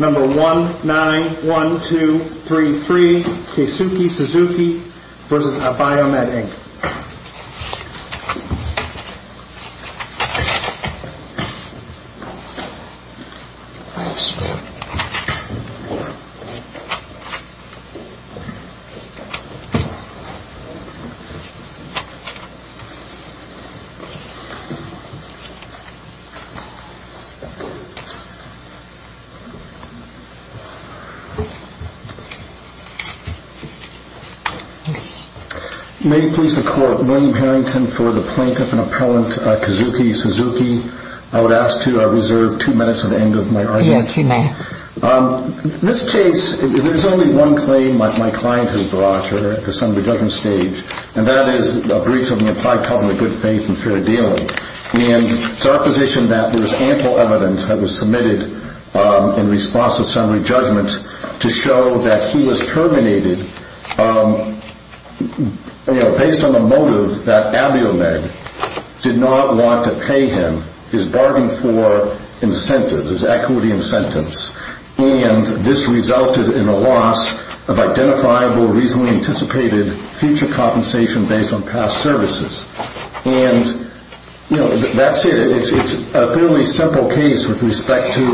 Number 191233, Keisuke Suzuki v. Abiomed, Inc. May it please the Court, William Harrington for the plaintiff and appellant, Keisuke Suzuki. I would ask to reserve two minutes at the end of my argument. Yes, you may. This case, there is only one claim my client has brought here at the Senate Judgment Stage, and that is a breach of an implied covenant of good faith and fair dealing. And it is our position that there is ample evidence that was submitted in response to summary judgment to show that he was terminated based on the motive that Abiomed did not want to pay him his bargain for incentives, his equity incentives. And this resulted in a loss of identifiable, reasonably anticipated future compensation based on past services. And, you know, that's it. It's a fairly simple case with respect to...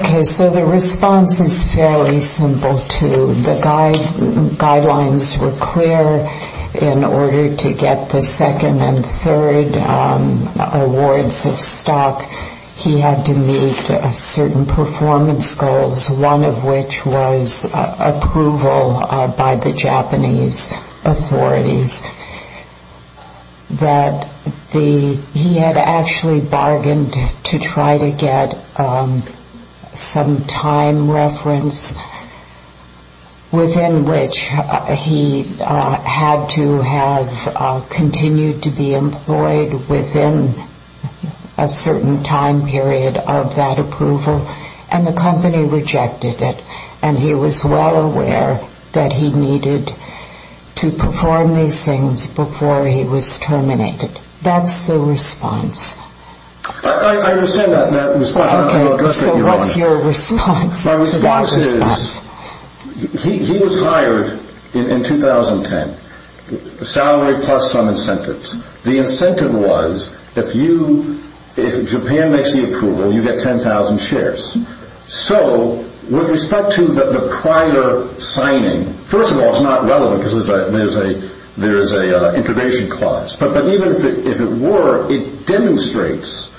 Okay, so the response is fairly simple, too. The guidelines were clear in order to get the second and third awards of stock. He had to meet certain performance goals, one of which was approval by the Japanese authorities. He had actually bargained to try to get some time reference, within which he had to have continued to be employed within a certain time period of that approval, and the company rejected it. And he was well aware that he needed to perform these things before he was terminated. That's the response. I understand that response. Okay, so what's your response to that response? My response is he was hired in 2010, salary plus some incentives. The incentive was if Japan makes the approval, you get 10,000 shares. So with respect to the prior signing, first of all, it's not relevant because there is an integration clause. But even if it were, it demonstrates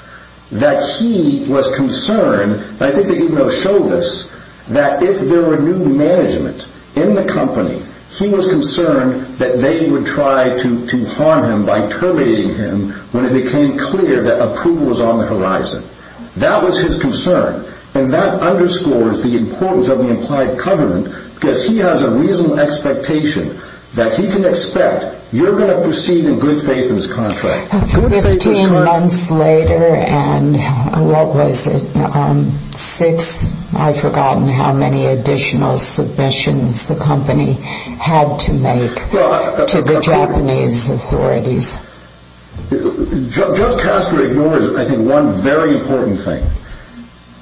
that he was concerned. I think they even show this, that if there were new management in the company, he was concerned that they would try to harm him by terminating him when it became clear that approval was on the horizon. That was his concern, and that underscores the importance of the implied covenant because he has a reasonable expectation that he can expect, you're going to proceed in good faith in this contract. Fifteen months later, and what was it, six? I've forgotten how many additional submissions the company had to make to the Japanese authorities. Joe Castro ignores, I think, one very important thing.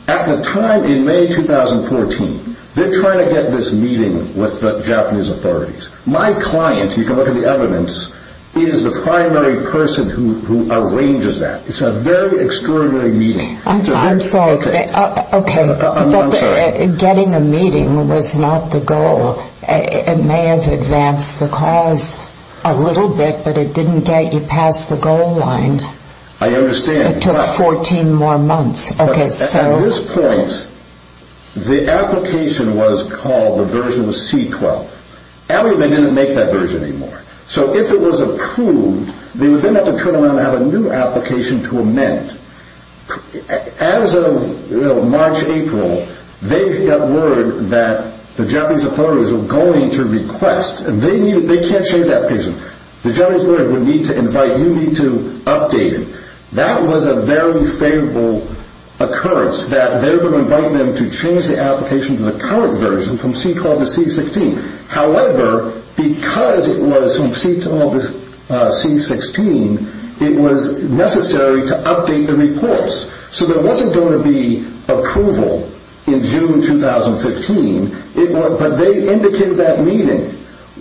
At the time in May 2014, they're trying to get this meeting with the Japanese authorities. My client, you can look at the evidence, is the primary person who arranges that. It's a very extraordinary meeting. I'm sorry. Okay. I'm sorry. Getting a meeting was not the goal. It may have advanced the cause a little bit, but it didn't get you past the goal line. I understand. It took 14 more months. At this point, the application was called the version C-12. Alibaba didn't make that version anymore. So if it was approved, they would then have to turn around and have a new application to amend. As of March, April, they got word that the Japanese authorities were going to request, and they can't change that provision. The Japanese authorities would need to invite, you need to update it. That was a very favorable occurrence, that they were going to invite them to change the application to the current version from C-12 to C-16. However, because it was from C-12 to C-16, it was necessary to update the reports. So there wasn't going to be approval in June 2015, but they indicated that meeting.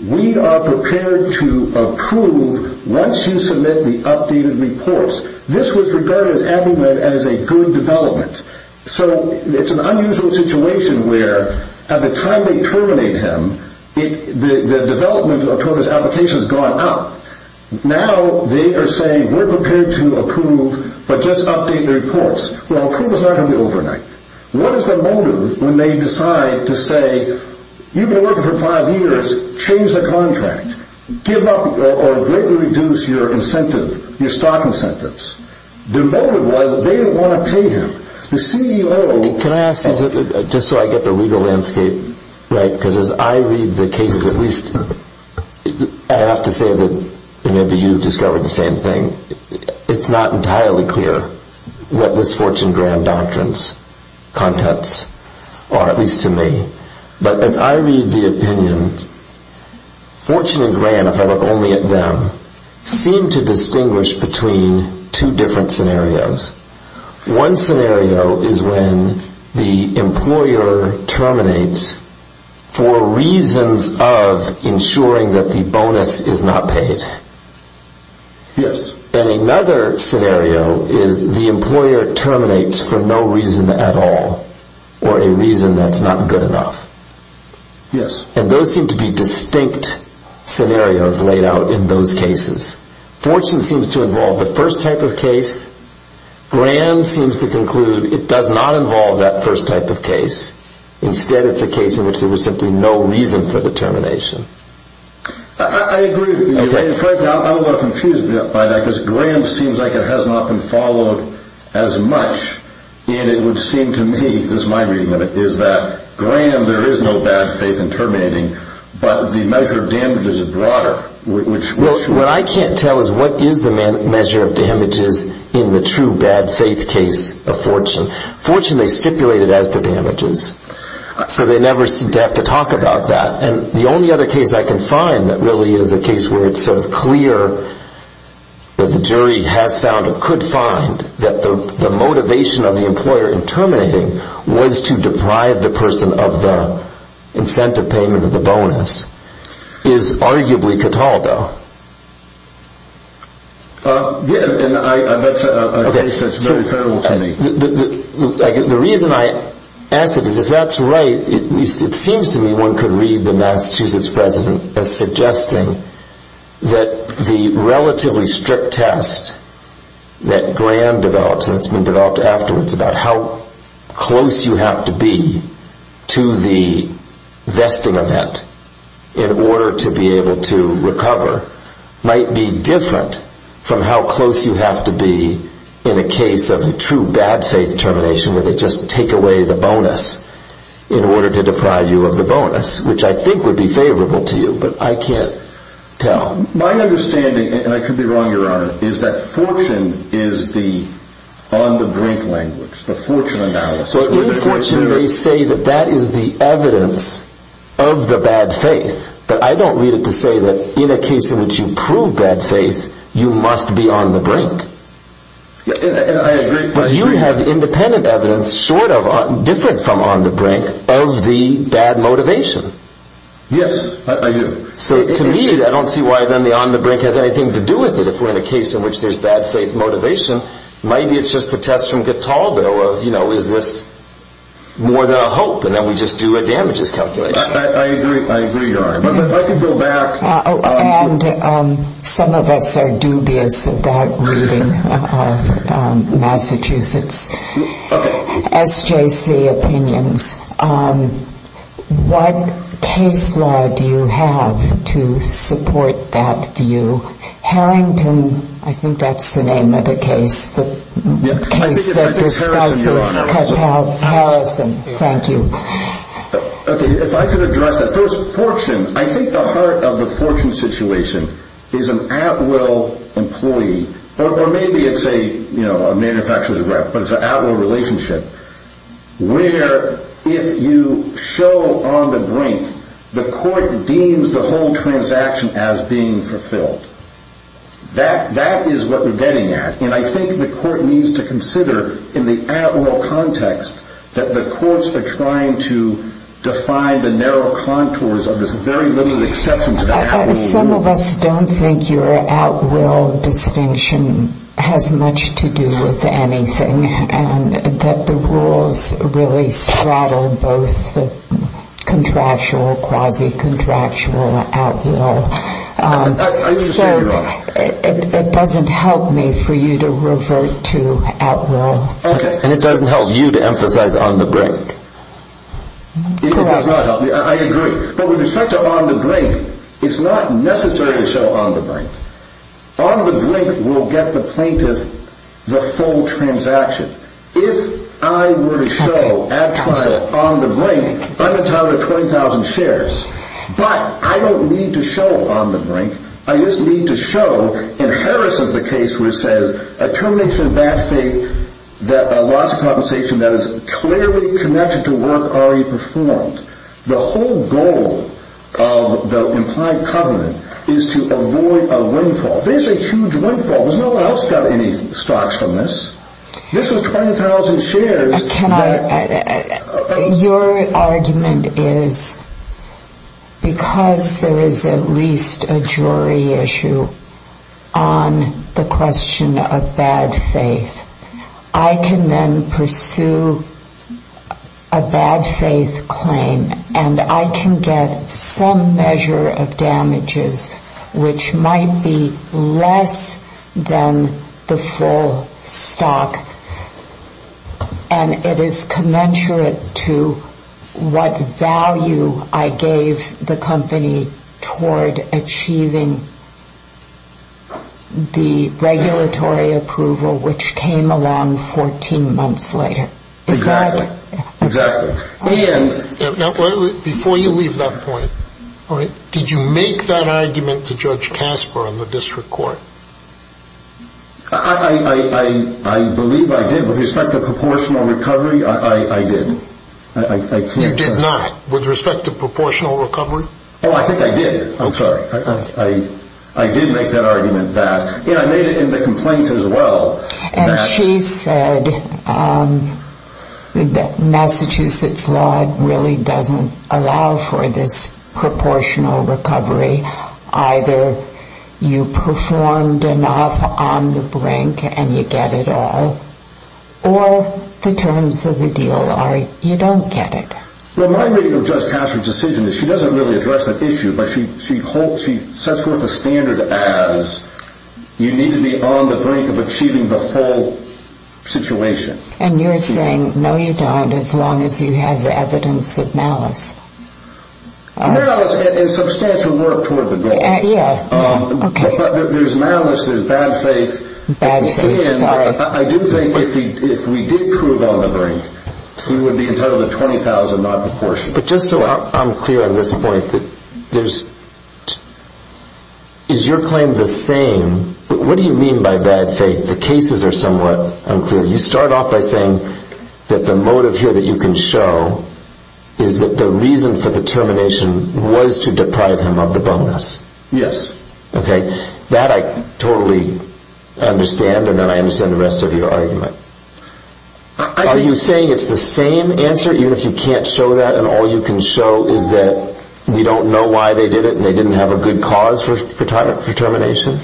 We are prepared to approve once you submit the updated reports. This was regarded as a good development. So it's an unusual situation where at the time they terminate him, the development of this application has gone up. Now they are saying we're prepared to approve, but just update the reports. Well, approve is not going to be overnight. What is the motive when they decide to say, you've been working for five years, change the contract, give up or greatly reduce your incentive, your stock incentives? The motive was they didn't want to pay him. The CEO... Can I ask you, just so I get the legal landscape right, because as I read the cases, at least I have to say that maybe you've discovered the same thing. It's not entirely clear what this Fortune Grant doctrines, contents are, at least to me. But as I read the opinions, Fortune and Grant, if I look only at them, seem to distinguish between two different scenarios. One scenario is when the employer terminates for reasons of ensuring that the bonus is not paid. Yes. And another scenario is the employer terminates for no reason at all, or a reason that's not good enough. Yes. And those seem to be distinct scenarios laid out in those cases. Fortune seems to involve the first type of case. Grant seems to conclude it does not involve that first type of case. Instead, it's a case in which there was simply no reason for the termination. I agree with you. In fact, I'm a little confused by that, because Grant seems like it has not been followed as much. And it would seem to me, this is my reading of it, is that Grant, there is no bad faith in terminating, but the measure of damages is broader. What I can't tell is what is the measure of damages in the true bad faith case of Fortune. Fortune, they stipulate it as the damages. So they never have to talk about that. And the only other case I can find that really is a case where it's sort of clear that the jury has found or could find that the motivation of the employer in terminating was to deprive the person of the incentive payment or the bonus is arguably Cataldo. And that's a case that's very federal to me. The reason I ask it is if that's right, it seems to me one could read the Massachusetts president as suggesting that the relatively strict test that Grant develops and has been developed afterwards about how close you have to be to the vesting event in order to be able to recover might be different from how close you have to be in a case of a true bad faith termination where they just take away the bonus in order to deprive you of the bonus, which I think would be favorable to you. But I can't tell. My understanding, and I could be wrong, Your Honor, is that Fortune is the on-the-brink language, the Fortune analysis. Well, in Fortune they say that that is the evidence of the bad faith. But I don't read it to say that in a case in which you prove bad faith, you must be on-the-brink. I agree. But you have independent evidence different from on-the-brink of the bad motivation. Yes, I do. So to me, I don't see why then the on-the-brink has anything to do with it if we're in a case in which there's bad faith motivation. Maybe it's just the test from Cataldo of, you know, is this more than a hope? And then we just do a damages calculation. I agree. I agree, Your Honor. But if I could go back. And some of us are dubious about reading Massachusetts SJC opinions. What case law do you have to support that view? Harrington, I think that's the name of the case, the case that discusses Cataldo Harrison. Thank you. Okay, if I could address that. First, fortune. I think the heart of the fortune situation is an at-will employee, or maybe it's a manufacturer's rep, but it's an at-will relationship, where if you show on-the-brink, the court deems the whole transaction as being fulfilled. That is what we're getting at. And I think the court needs to consider in the at-will context that the courts are trying to define the narrow contours of this very limited exception to the at-will rule. Some of us don't think your at-will distinction has much to do with anything and that the rules really straddle both the contractual, quasi-contractual, at-will. I understand, Your Honor. It doesn't help me for you to revert to at-will. And it doesn't help you to emphasize on-the-brink. It does not help me. I agree. But with respect to on-the-brink, it's not necessary to show on-the-brink. On-the-brink will get the plaintiff the full transaction. If I were to show, at trial, on-the-brink, I'm entitled to 20,000 shares. But I don't need to show on-the-brink. I just need to show, and Harris has a case where it says, a termination of bad faith, a loss of compensation that is clearly connected to work already performed. The whole goal of the implied covenant is to avoid a windfall. This is a huge windfall. There's no one else who got any stocks from this. This is 20,000 shares. Your argument is, because there is at least a jury issue on the question of bad faith, I can then pursue a bad faith claim, and I can get some measure of damages, which might be less than the full stock. And it is commensurate to what value I gave the company toward achieving the regulatory approval, which came along 14 months later. Exactly. Exactly. Before you leave that point, did you make that argument to Judge Casper on the district court? I believe I did. With respect to proportional recovery, I did. You did not? With respect to proportional recovery? Oh, I think I did. I'm sorry. I did make that argument. I made it in the complaint as well. And she said that Massachusetts law really doesn't allow for this proportional recovery. Either you performed enough on the brink and you get it all, or the terms of the deal are you don't get it. Well, my reading of Judge Casper's decision is she doesn't really address that issue, but she sets forth a standard as you need to be on the brink of achieving the full situation. And you're saying, no, you don't, as long as you have evidence of malice. Malice is substantial work toward the goal. Yeah. Okay. But there's malice, there's bad faith. Bad faith. Sorry. I do think if we did prove on the brink, we would be entitled to $20,000 not proportioned. But just so I'm clear on this point, is your claim the same? What do you mean by bad faith? The cases are somewhat unclear. You start off by saying that the motive here that you can show is that the reason for the termination was to deprive him of the bonus. Yes. Okay. That I totally understand, and then I understand the rest of your argument. Are you saying it's the same answer, even if you can't show that, and all you can show is that you don't know why they did it and they didn't have a good cause for termination?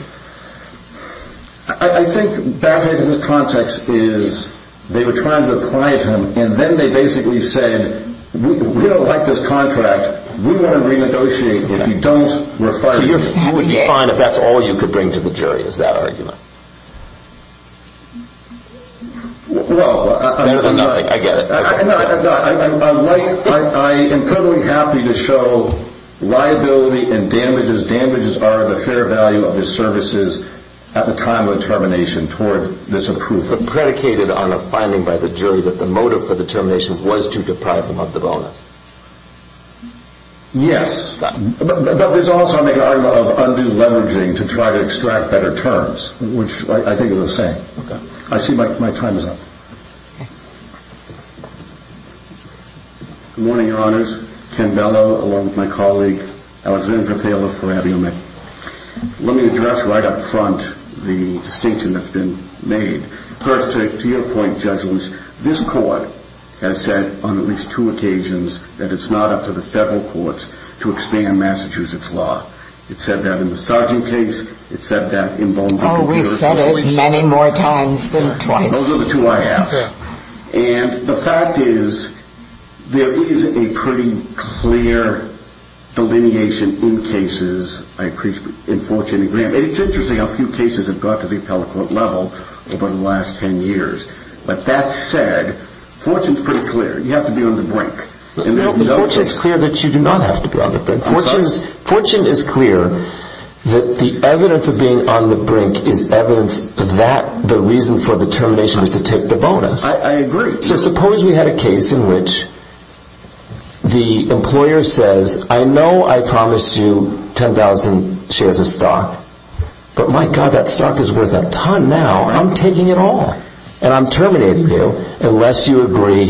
I think bad faith in this context is they were trying to deprive him, and then they basically said, we don't like this contract. We want to renegotiate if you don't refine it. So you're fine if that's all you could bring to the jury is that argument? Well, I get it. I am totally happy to show liability and damages. Damages are the fair value of the services at the time of the termination toward this approval. But predicated on a finding by the jury that the motive for the termination was to deprive him of the bonus. Yes. But there's also an argument of underleveraging to try to extract better terms, which I think are the same. Okay. I see my time is up. Okay. Good morning, Your Honors. Ken Bellow along with my colleague, Alexandra Thaler-Ferrariumi. Let me address right up front the distinction that's been made. First, to your point, Judges, this court has said on at least two occasions that it's not up to the federal courts to expand Massachusetts law. It said that in the Sargent case. It said that in Bonneville- Oh, we've said it many more times than twice. Those are the two I asked. And the fact is there is a pretty clear delineation in cases. It's interesting how few cases have got to the appellate court level over the last ten years. But that said, fortune is pretty clear. You have to be on the brink. Fortune is clear that you do not have to be on the brink. Fortune is clear that the evidence of being on the brink is evidence that the reason for the termination was to take the bonus. I agree. So suppose we had a case in which the employer says, I know I promised you 10,000 shares of stock. But my God, that stock is worth a ton now. I'm taking it all. And I'm terminating you unless you agree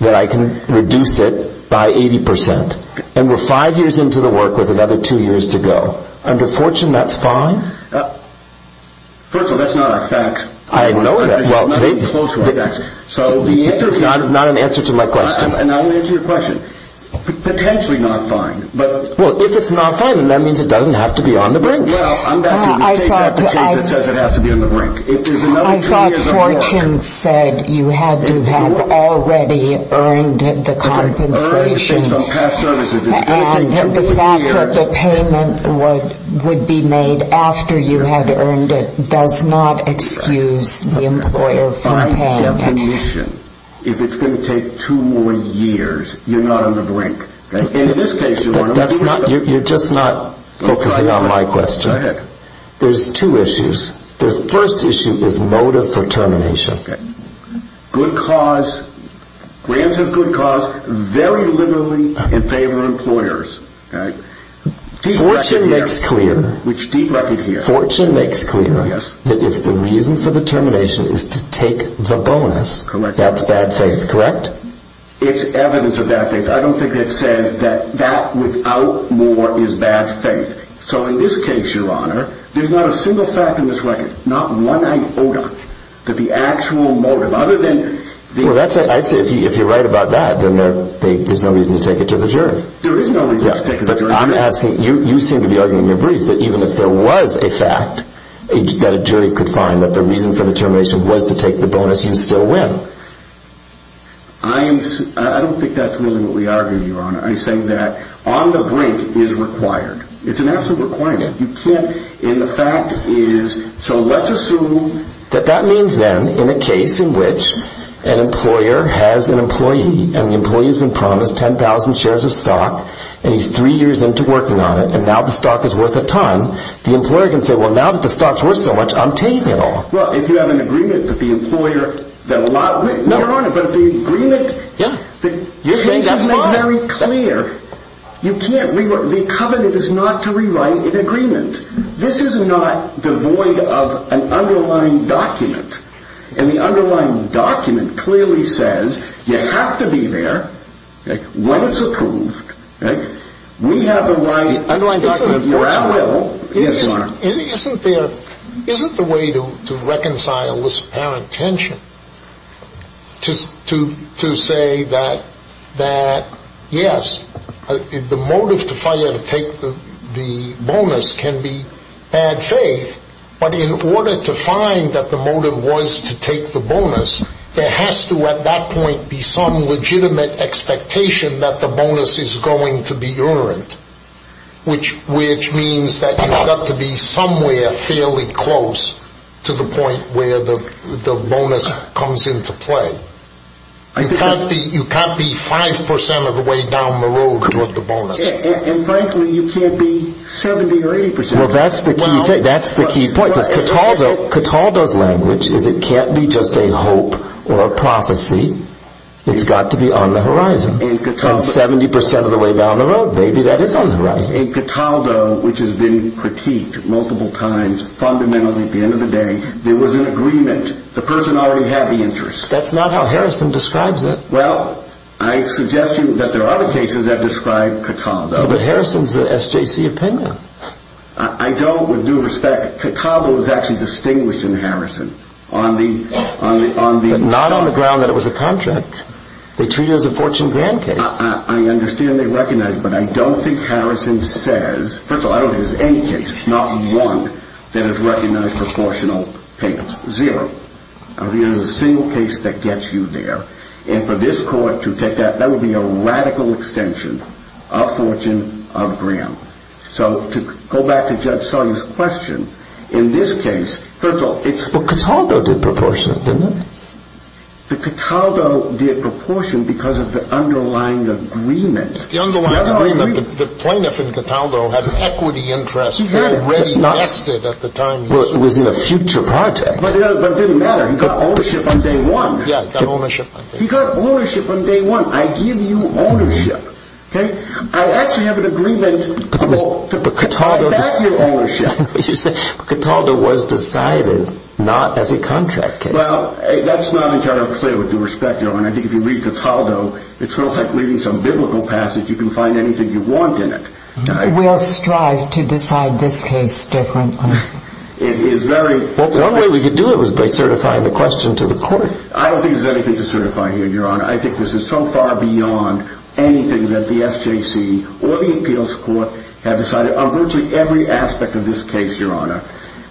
that I can reduce it by 80%. And we're five years into the work with another two years to go. Under fortune, that's fine? First of all, that's not our facts. I know that. So the answer is not an answer to my question. And I'll answer your question. Potentially not fine. Well, if it's not fine, then that means it doesn't have to be on the brink. No, I'm back to it. This is exactly the case that says it has to be on the brink. If there's another two years of work. I thought fortune said you had to have already earned the compensation. And the fact that the payment would be made after you had earned it does not excuse the employer. By definition, if it's going to take two more years, you're not on the brink. In this case, you are. You're just not focusing on my question. Go ahead. There's two issues. The first issue is motive for termination. Okay. Good cause. The answer is good cause. Very liberally in favor of employers. Fortune makes clear that if the reason for the termination is to take the bonus, that's bad faith. Correct? It's evidence of bad faith. I don't think it says that that without more is bad faith. So in this case, Your Honor, there's not a single fact in this record, not one iota, that the actual motive, other than... Well, I'd say if you're right about that, then there's no reason to take it to the jury. There is no reason to take it to the jury. But I'm asking, you seem to be arguing in your brief that even if there was a fact that a jury could find that the reason for the termination was to take the bonus, you'd still win. I don't think that's really what we argue, Your Honor. I'm saying that on the brink is required. It's an absolute requirement. You can't, and the fact is, so let's assume... That that means then, in a case in which an employer has an employee, and the employee has been promised 10,000 shares of stock, and he's three years into working on it, and now the stock is worth a ton, the employer can say, well, now that the stock's worth so much, I'm taking it all. Well, if you have an agreement with the employer, then a lot... No, Your Honor, but the agreement... Yeah, you're saying that's fine. Your case is made very clear. You can't, the covenant is not to rewrite an agreement. This is not devoid of an underlying document, and the underlying document clearly says you have to be there when it's approved. We have the right... The underlying document... Isn't there, isn't the way to reconcile this apparent tension to say that, yes, the motive to fire to take the bonus can be bad faith, but in order to find that the motive was to take the bonus, there has to, at that point, be some legitimate expectation that the bonus is going to be errant, which means that you've got to be somewhere fairly close to the point where the bonus comes into play. You can't be 5% of the way down the road with the bonus. And frankly, you can't be 70% or 80%. Well, that's the key thing, that's the key point, because Cataldo's language is it can't be just a hope or a prophecy, it's got to be on the horizon. And 70% of the way down the road, maybe that is on the horizon. In Cataldo, which has been critiqued multiple times, fundamentally, at the end of the day, there was an agreement. The person already had the interest. That's not how Harrison describes it. Well, I suggest to you that there are other cases that describe Cataldo. But Harrison's an SJC opinion. I don't, with due respect, Cataldo is actually distinguished in Harrison. But not on the ground that it was a contract. They treat it as a fortune grant case. I understand they recognize it, but I don't think Harrison says, first of all, I don't think there's any case, not one, that has recognized proportional payments. Zero. I don't think there's a single case that gets you there. And for this court to take that, that would be a radical extension of fortune, of grant. So to go back to Judge Sully's question, in this case, first of all, it's... Well, Cataldo did proportionate, didn't it? But Cataldo did proportionate because of the underlying agreement. The underlying agreement. The plaintiff in Cataldo had an equity interest already vested at the time. Well, it was in a future project. But it didn't matter. He got ownership on day one. Yeah, he got ownership on day one. He got ownership on day one. I give you ownership. Okay? I actually have an agreement to get back your ownership. But Cataldo was decided not as a contract case. Well, that's not entirely clear with due respect, Your Honor. I think if you read Cataldo, it's sort of like reading some biblical passage. You can find anything you want in it. We'll strive to decide this case differently. It is very... Well, one way we could do it was by certifying the question to the court. I don't think there's anything to certify here, Your Honor. I think this is so far beyond anything that the SJC or the appeals court have decided on virtually every aspect of this case, Your Honor.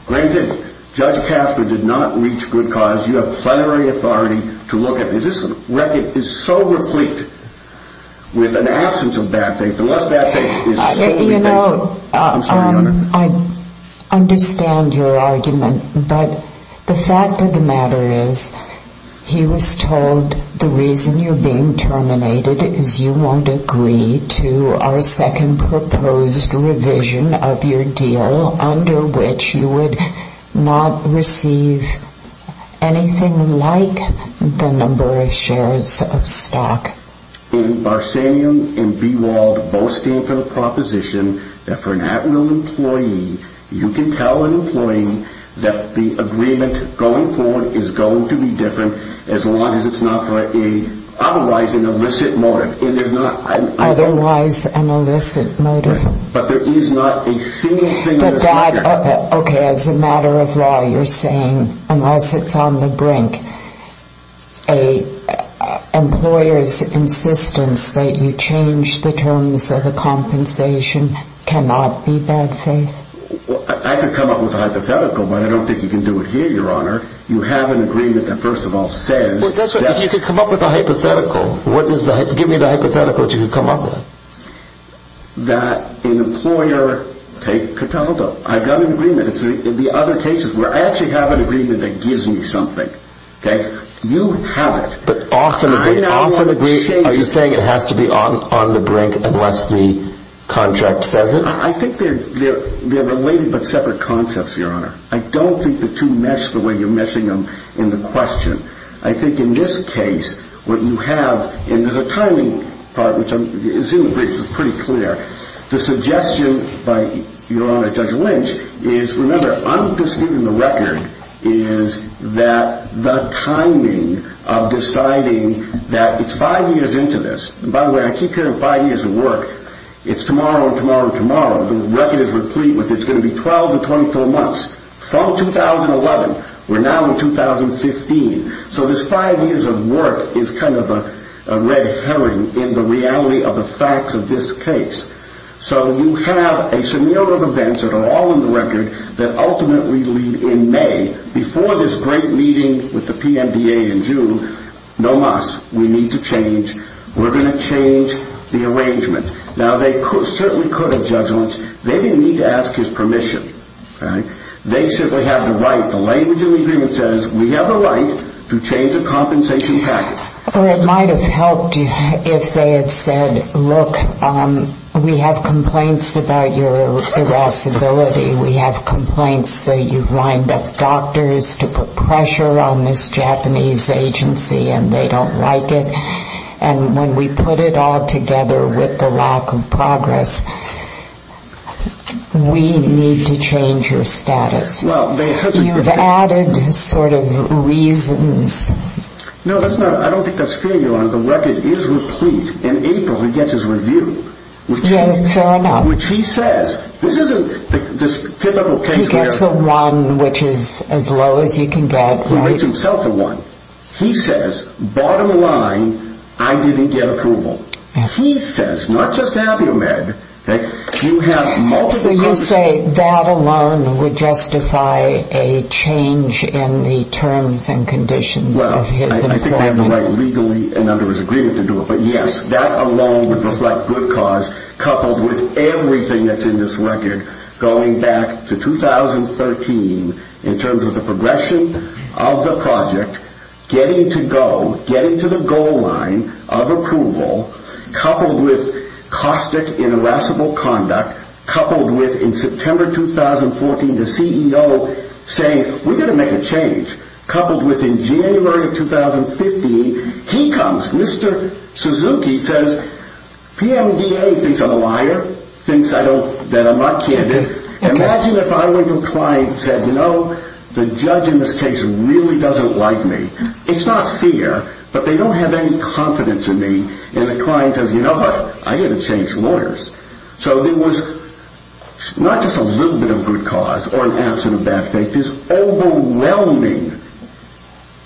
Granted, Judge Casper did not reach good cause. You have plenary authority to look at this. This record is so replete with an absence of bad faith. Unless that faith is... You know, I understand your argument. But the fact of the matter is he was told the reason you're being terminated is you won't agree to our second proposed revision of your deal under which you would not receive anything like the number of shares of stock. In Barsanian and Bewald boasting for the proposition that for an admiral employee, you can tell an employee that the agreement going forward is going to be different as long as it's not for otherwise an illicit motive. Otherwise an illicit motive? Right. But there is not a single thing... Okay. As a matter of law, you're saying unless it's on the brink, an employer's insistence that you change the terms of the compensation cannot be bad faith? I could come up with a hypothetical, but I don't think you can do it here, Your Honor. You have an agreement that first of all says... Well, if you could come up with a hypothetical, give me the hypothetical that you could come up with. That an employer... Okay. I've got an agreement. The other cases where I actually have an agreement that gives me something. Okay? You have it. But often agree... I don't want to change... Are you saying it has to be on the brink unless the contract says it? I think they're related but separate concepts, Your Honor. I don't think the two mesh the way you're meshing them in the question. I think in this case, what you have, and there's a timing part, which I'm assuming is pretty clear. The suggestion by Your Honor Judge Lynch is, remember, I'm interested in the record is that the timing of deciding that it's five years into this. By the way, I keep hearing five years of work. It's tomorrow and tomorrow and tomorrow. The record is replete with it's going to be 12 to 24 months from 2011. We're now in 2015. So this five years of work is kind of a red herring in the reality of the facts of this case. So you have a scenario of events that are all in the record that ultimately in May, before this great meeting with the PMBA in June, no mas. We need to change. We're going to change the arrangement. Now, they certainly could have, Judge Lynch. They didn't need to ask his permission. They simply have the right, the language in the agreement says, we have the right to change the compensation package. Or it might have helped if they had said, look, we have complaints about your irascibility. We have complaints that you've lined up doctors to put pressure on this Japanese agency and they don't like it. And when we put it all together with the lack of progress, we need to change your status. You've added sort of reasons. No, that's not it. I don't think that's fair, Your Honor. The record is replete. In April, he gets his review. Yeah, fair enough. Which he says, this isn't this typical case where- He gets a one, which is as low as you can get. He makes himself a one. He says, bottom line, I didn't get approval. He says, not just to have you, Meg, you have multiple- So you say that alone would justify a change in the terms and conditions of his employment? Well, I think they have the right legally and under his agreement to do it. But, yes, that alone would reflect good cause coupled with everything that's in this record going back to 2013 in terms of the progression of the project, getting to go, getting to the goal line of approval, coupled with caustic and irascible conduct, coupled with, in September 2014, the CEO saying, we're going to make a change, coupled with, in January of 2015, he comes. Mr. Suzuki says, PMDA thinks I'm a liar, thinks that I'm not candid. Imagine if I went to a client and said, you know, the judge in this case really doesn't like me. It's not fear, but they don't have any confidence in me. And the client says, you know what, I'm going to change lawyers. So there was not just a little bit of good cause or an absence of bad faith, there's overwhelming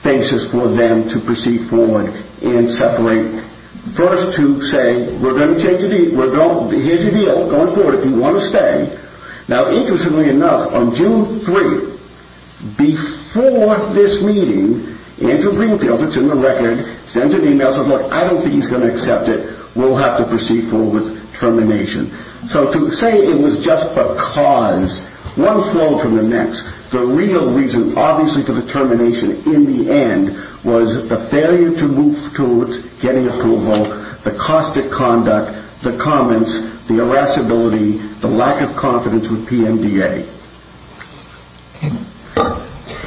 basis for them to proceed forward and separate. First to say, we're going to change the deal, here's the deal, going forward, if you want to stay. Now, interestingly enough, on June 3, before this meeting, Andrew Greenfield, it's in the record, sends an email, says, look, I don't think he's going to accept it, we'll have to proceed forward with termination. So to say it was just because, one flow from the next, the real reason, obviously, for the termination, in the end, was the failure to move towards getting approval, the caustic conduct, the comments, the irascibility, the lack of confidence with PMDA.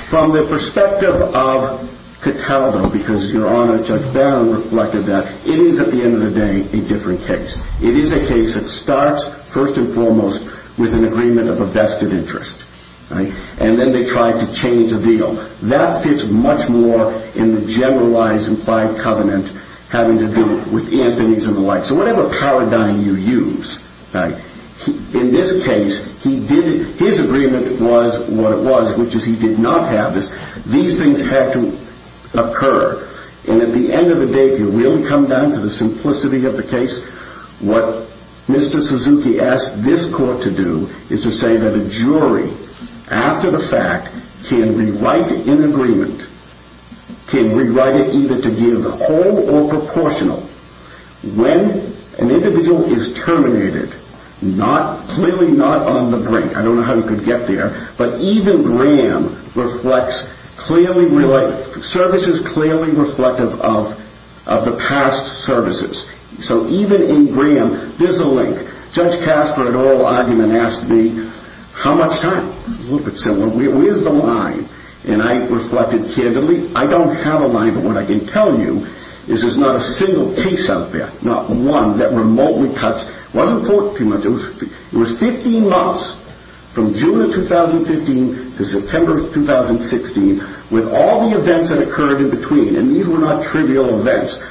From the perspective of Cataldo, because your Honor, Judge Barron reflected that, it is, at the end of the day, a different case. It is a case that starts, first and foremost, with an agreement of a vested interest. And then they try to change the deal. That fits much more in the generalized implied covenant having to do with Anthony's and the like. So whatever paradigm you use, in this case, his agreement was what it was, which is he did not have. These things had to occur. And at the end of the day, if you really come down to the simplicity of the case, what Mr. Suzuki asked this court to do is to say that a jury, after the fact, can rewrite an agreement, can rewrite it either to give the whole or proportional. When an individual is terminated, clearly not on the brink, I don't know how he could get there, but even Graham reflects services clearly reflective of the past services. So even in Graham, there's a link. Judge Casper, at oral argument, asked me, how much time? A little bit similar. Where's the line? And I reflected candidly, I don't have a line, but what I can tell you is there's not a single case out there, not one that remotely cuts. It wasn't fought too much. It was 15 months from June of 2015 to September of 2016 with all the events that occurred in between. And these were not trivial events.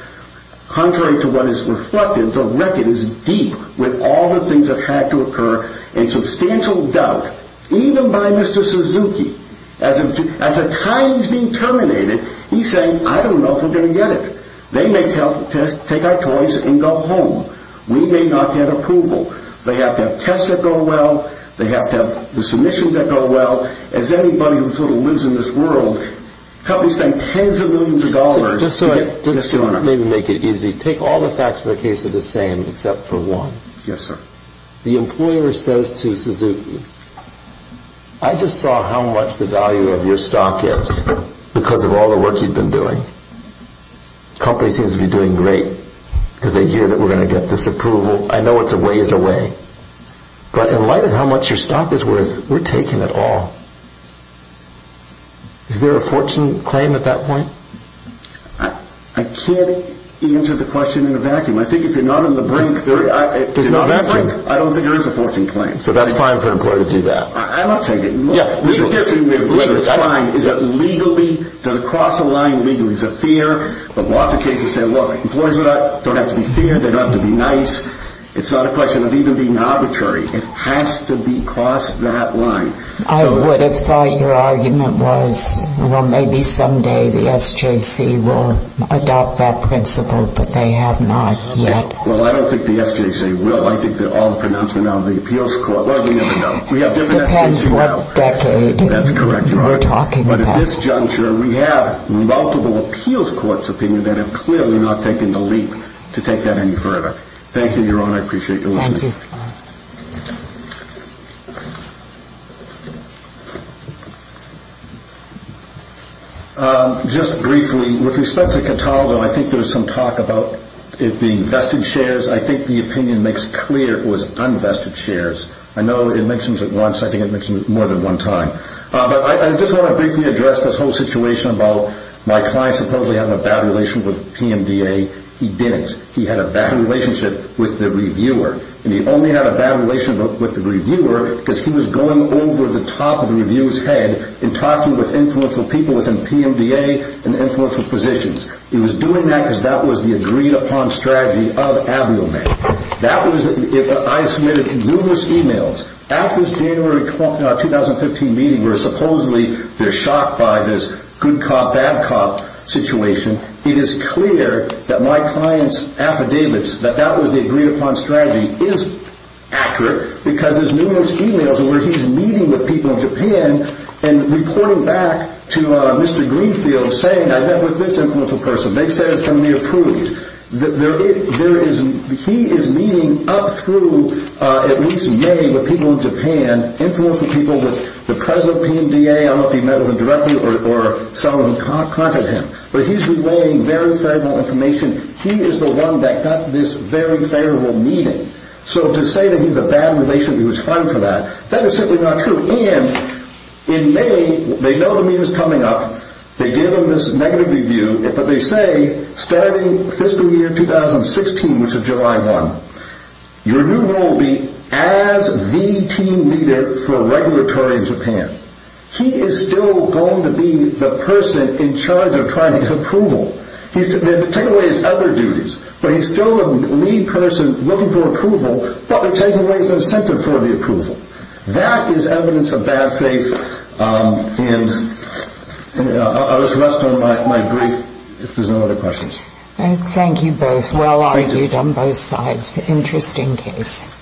Contrary to what is reflected, the record is deep with all the things that had to occur and substantial doubt, even by Mr. Suzuki. As a time is being terminated, he's saying, I don't know if we're going to get it. They may take our toys and go home. We may not get approval. They have to have tests that go well. They have to have the submissions that go well. As anybody who sort of lives in this world, companies spend tens of millions of dollars. Just so I maybe make it easy, take all the facts of the case are the same except for one. Yes, sir. The employer says to Suzuki, I just saw how much the value of your stock is because of all the work you've been doing. The company seems to be doing great because they hear that we're going to get this approval. I know it's a ways away. But in light of how much your stock is worth, we're taking it all. Is there a fortune claim at that point? I can't answer the question in a vacuum. I think if you're not on the brink, I don't think there is a fortune claim. So that's fine for an employer to do that? I don't take it. The only thing that's fine is that legally, does it cross the line legally? Is it fair? But lots of cases say, look, employers don't have to be fair. They don't have to be nice. It's not a question of even being arbitrary. It has to be across that line. Well, I don't think the SJC will. I think that all the pronouncement of the appeals court will. It depends what decade you're talking about. But at this juncture, we have multiple appeals courts' opinions that have clearly not taken the leap to take that any further. Thank you, Your Honor. I appreciate your listening. Thank you. Your Honor. Just briefly, with respect to Cataldo, I think there was some talk about it being vested shares. I think the opinion makes clear it was unvested shares. I know it mentions it once. I think it mentions it more than one time. But I just want to briefly address this whole situation about my client supposedly having a bad relationship with PMDA. He didn't. He had a bad relationship with the reviewer. And he only had a bad relationship with the reviewer because he was going over the top of the reviewer's head and talking with influential people within PMDA and influential positions. He was doing that because that was the agreed-upon strategy of Aviomail. I have submitted numerous e-mails. After this January 2015 meeting where supposedly they're shocked by this good cop, bad cop situation, it is clear that my client's affidavits that that was the agreed-upon strategy is accurate because there's numerous e-mails where he's meeting with people in Japan and reporting back to Mr. Greenfield saying I met with this influential person. They say it's going to be approved. He is meeting up through at least many of the people in Japan, influential people with the president of PMDA. I don't know if he met with them directly or some of them contacted him. But he's relaying very favorable information. He is the one that got this very favorable meeting. So to say that he has a bad relationship, he was fined for that, that is simply not true. And in May, they know the meeting is coming up. They give him this negative review. But they say starting fiscal year 2016, which is July 1, he is still going to be the person in charge of trying to get approval. They're taking away his other duties. But he's still the lead person looking for approval. But they're taking away his incentive for the approval. That is evidence of bad faith. And I'll just rest on my brief if there's no other questions. Thank you both. Well argued on both sides. Interesting case.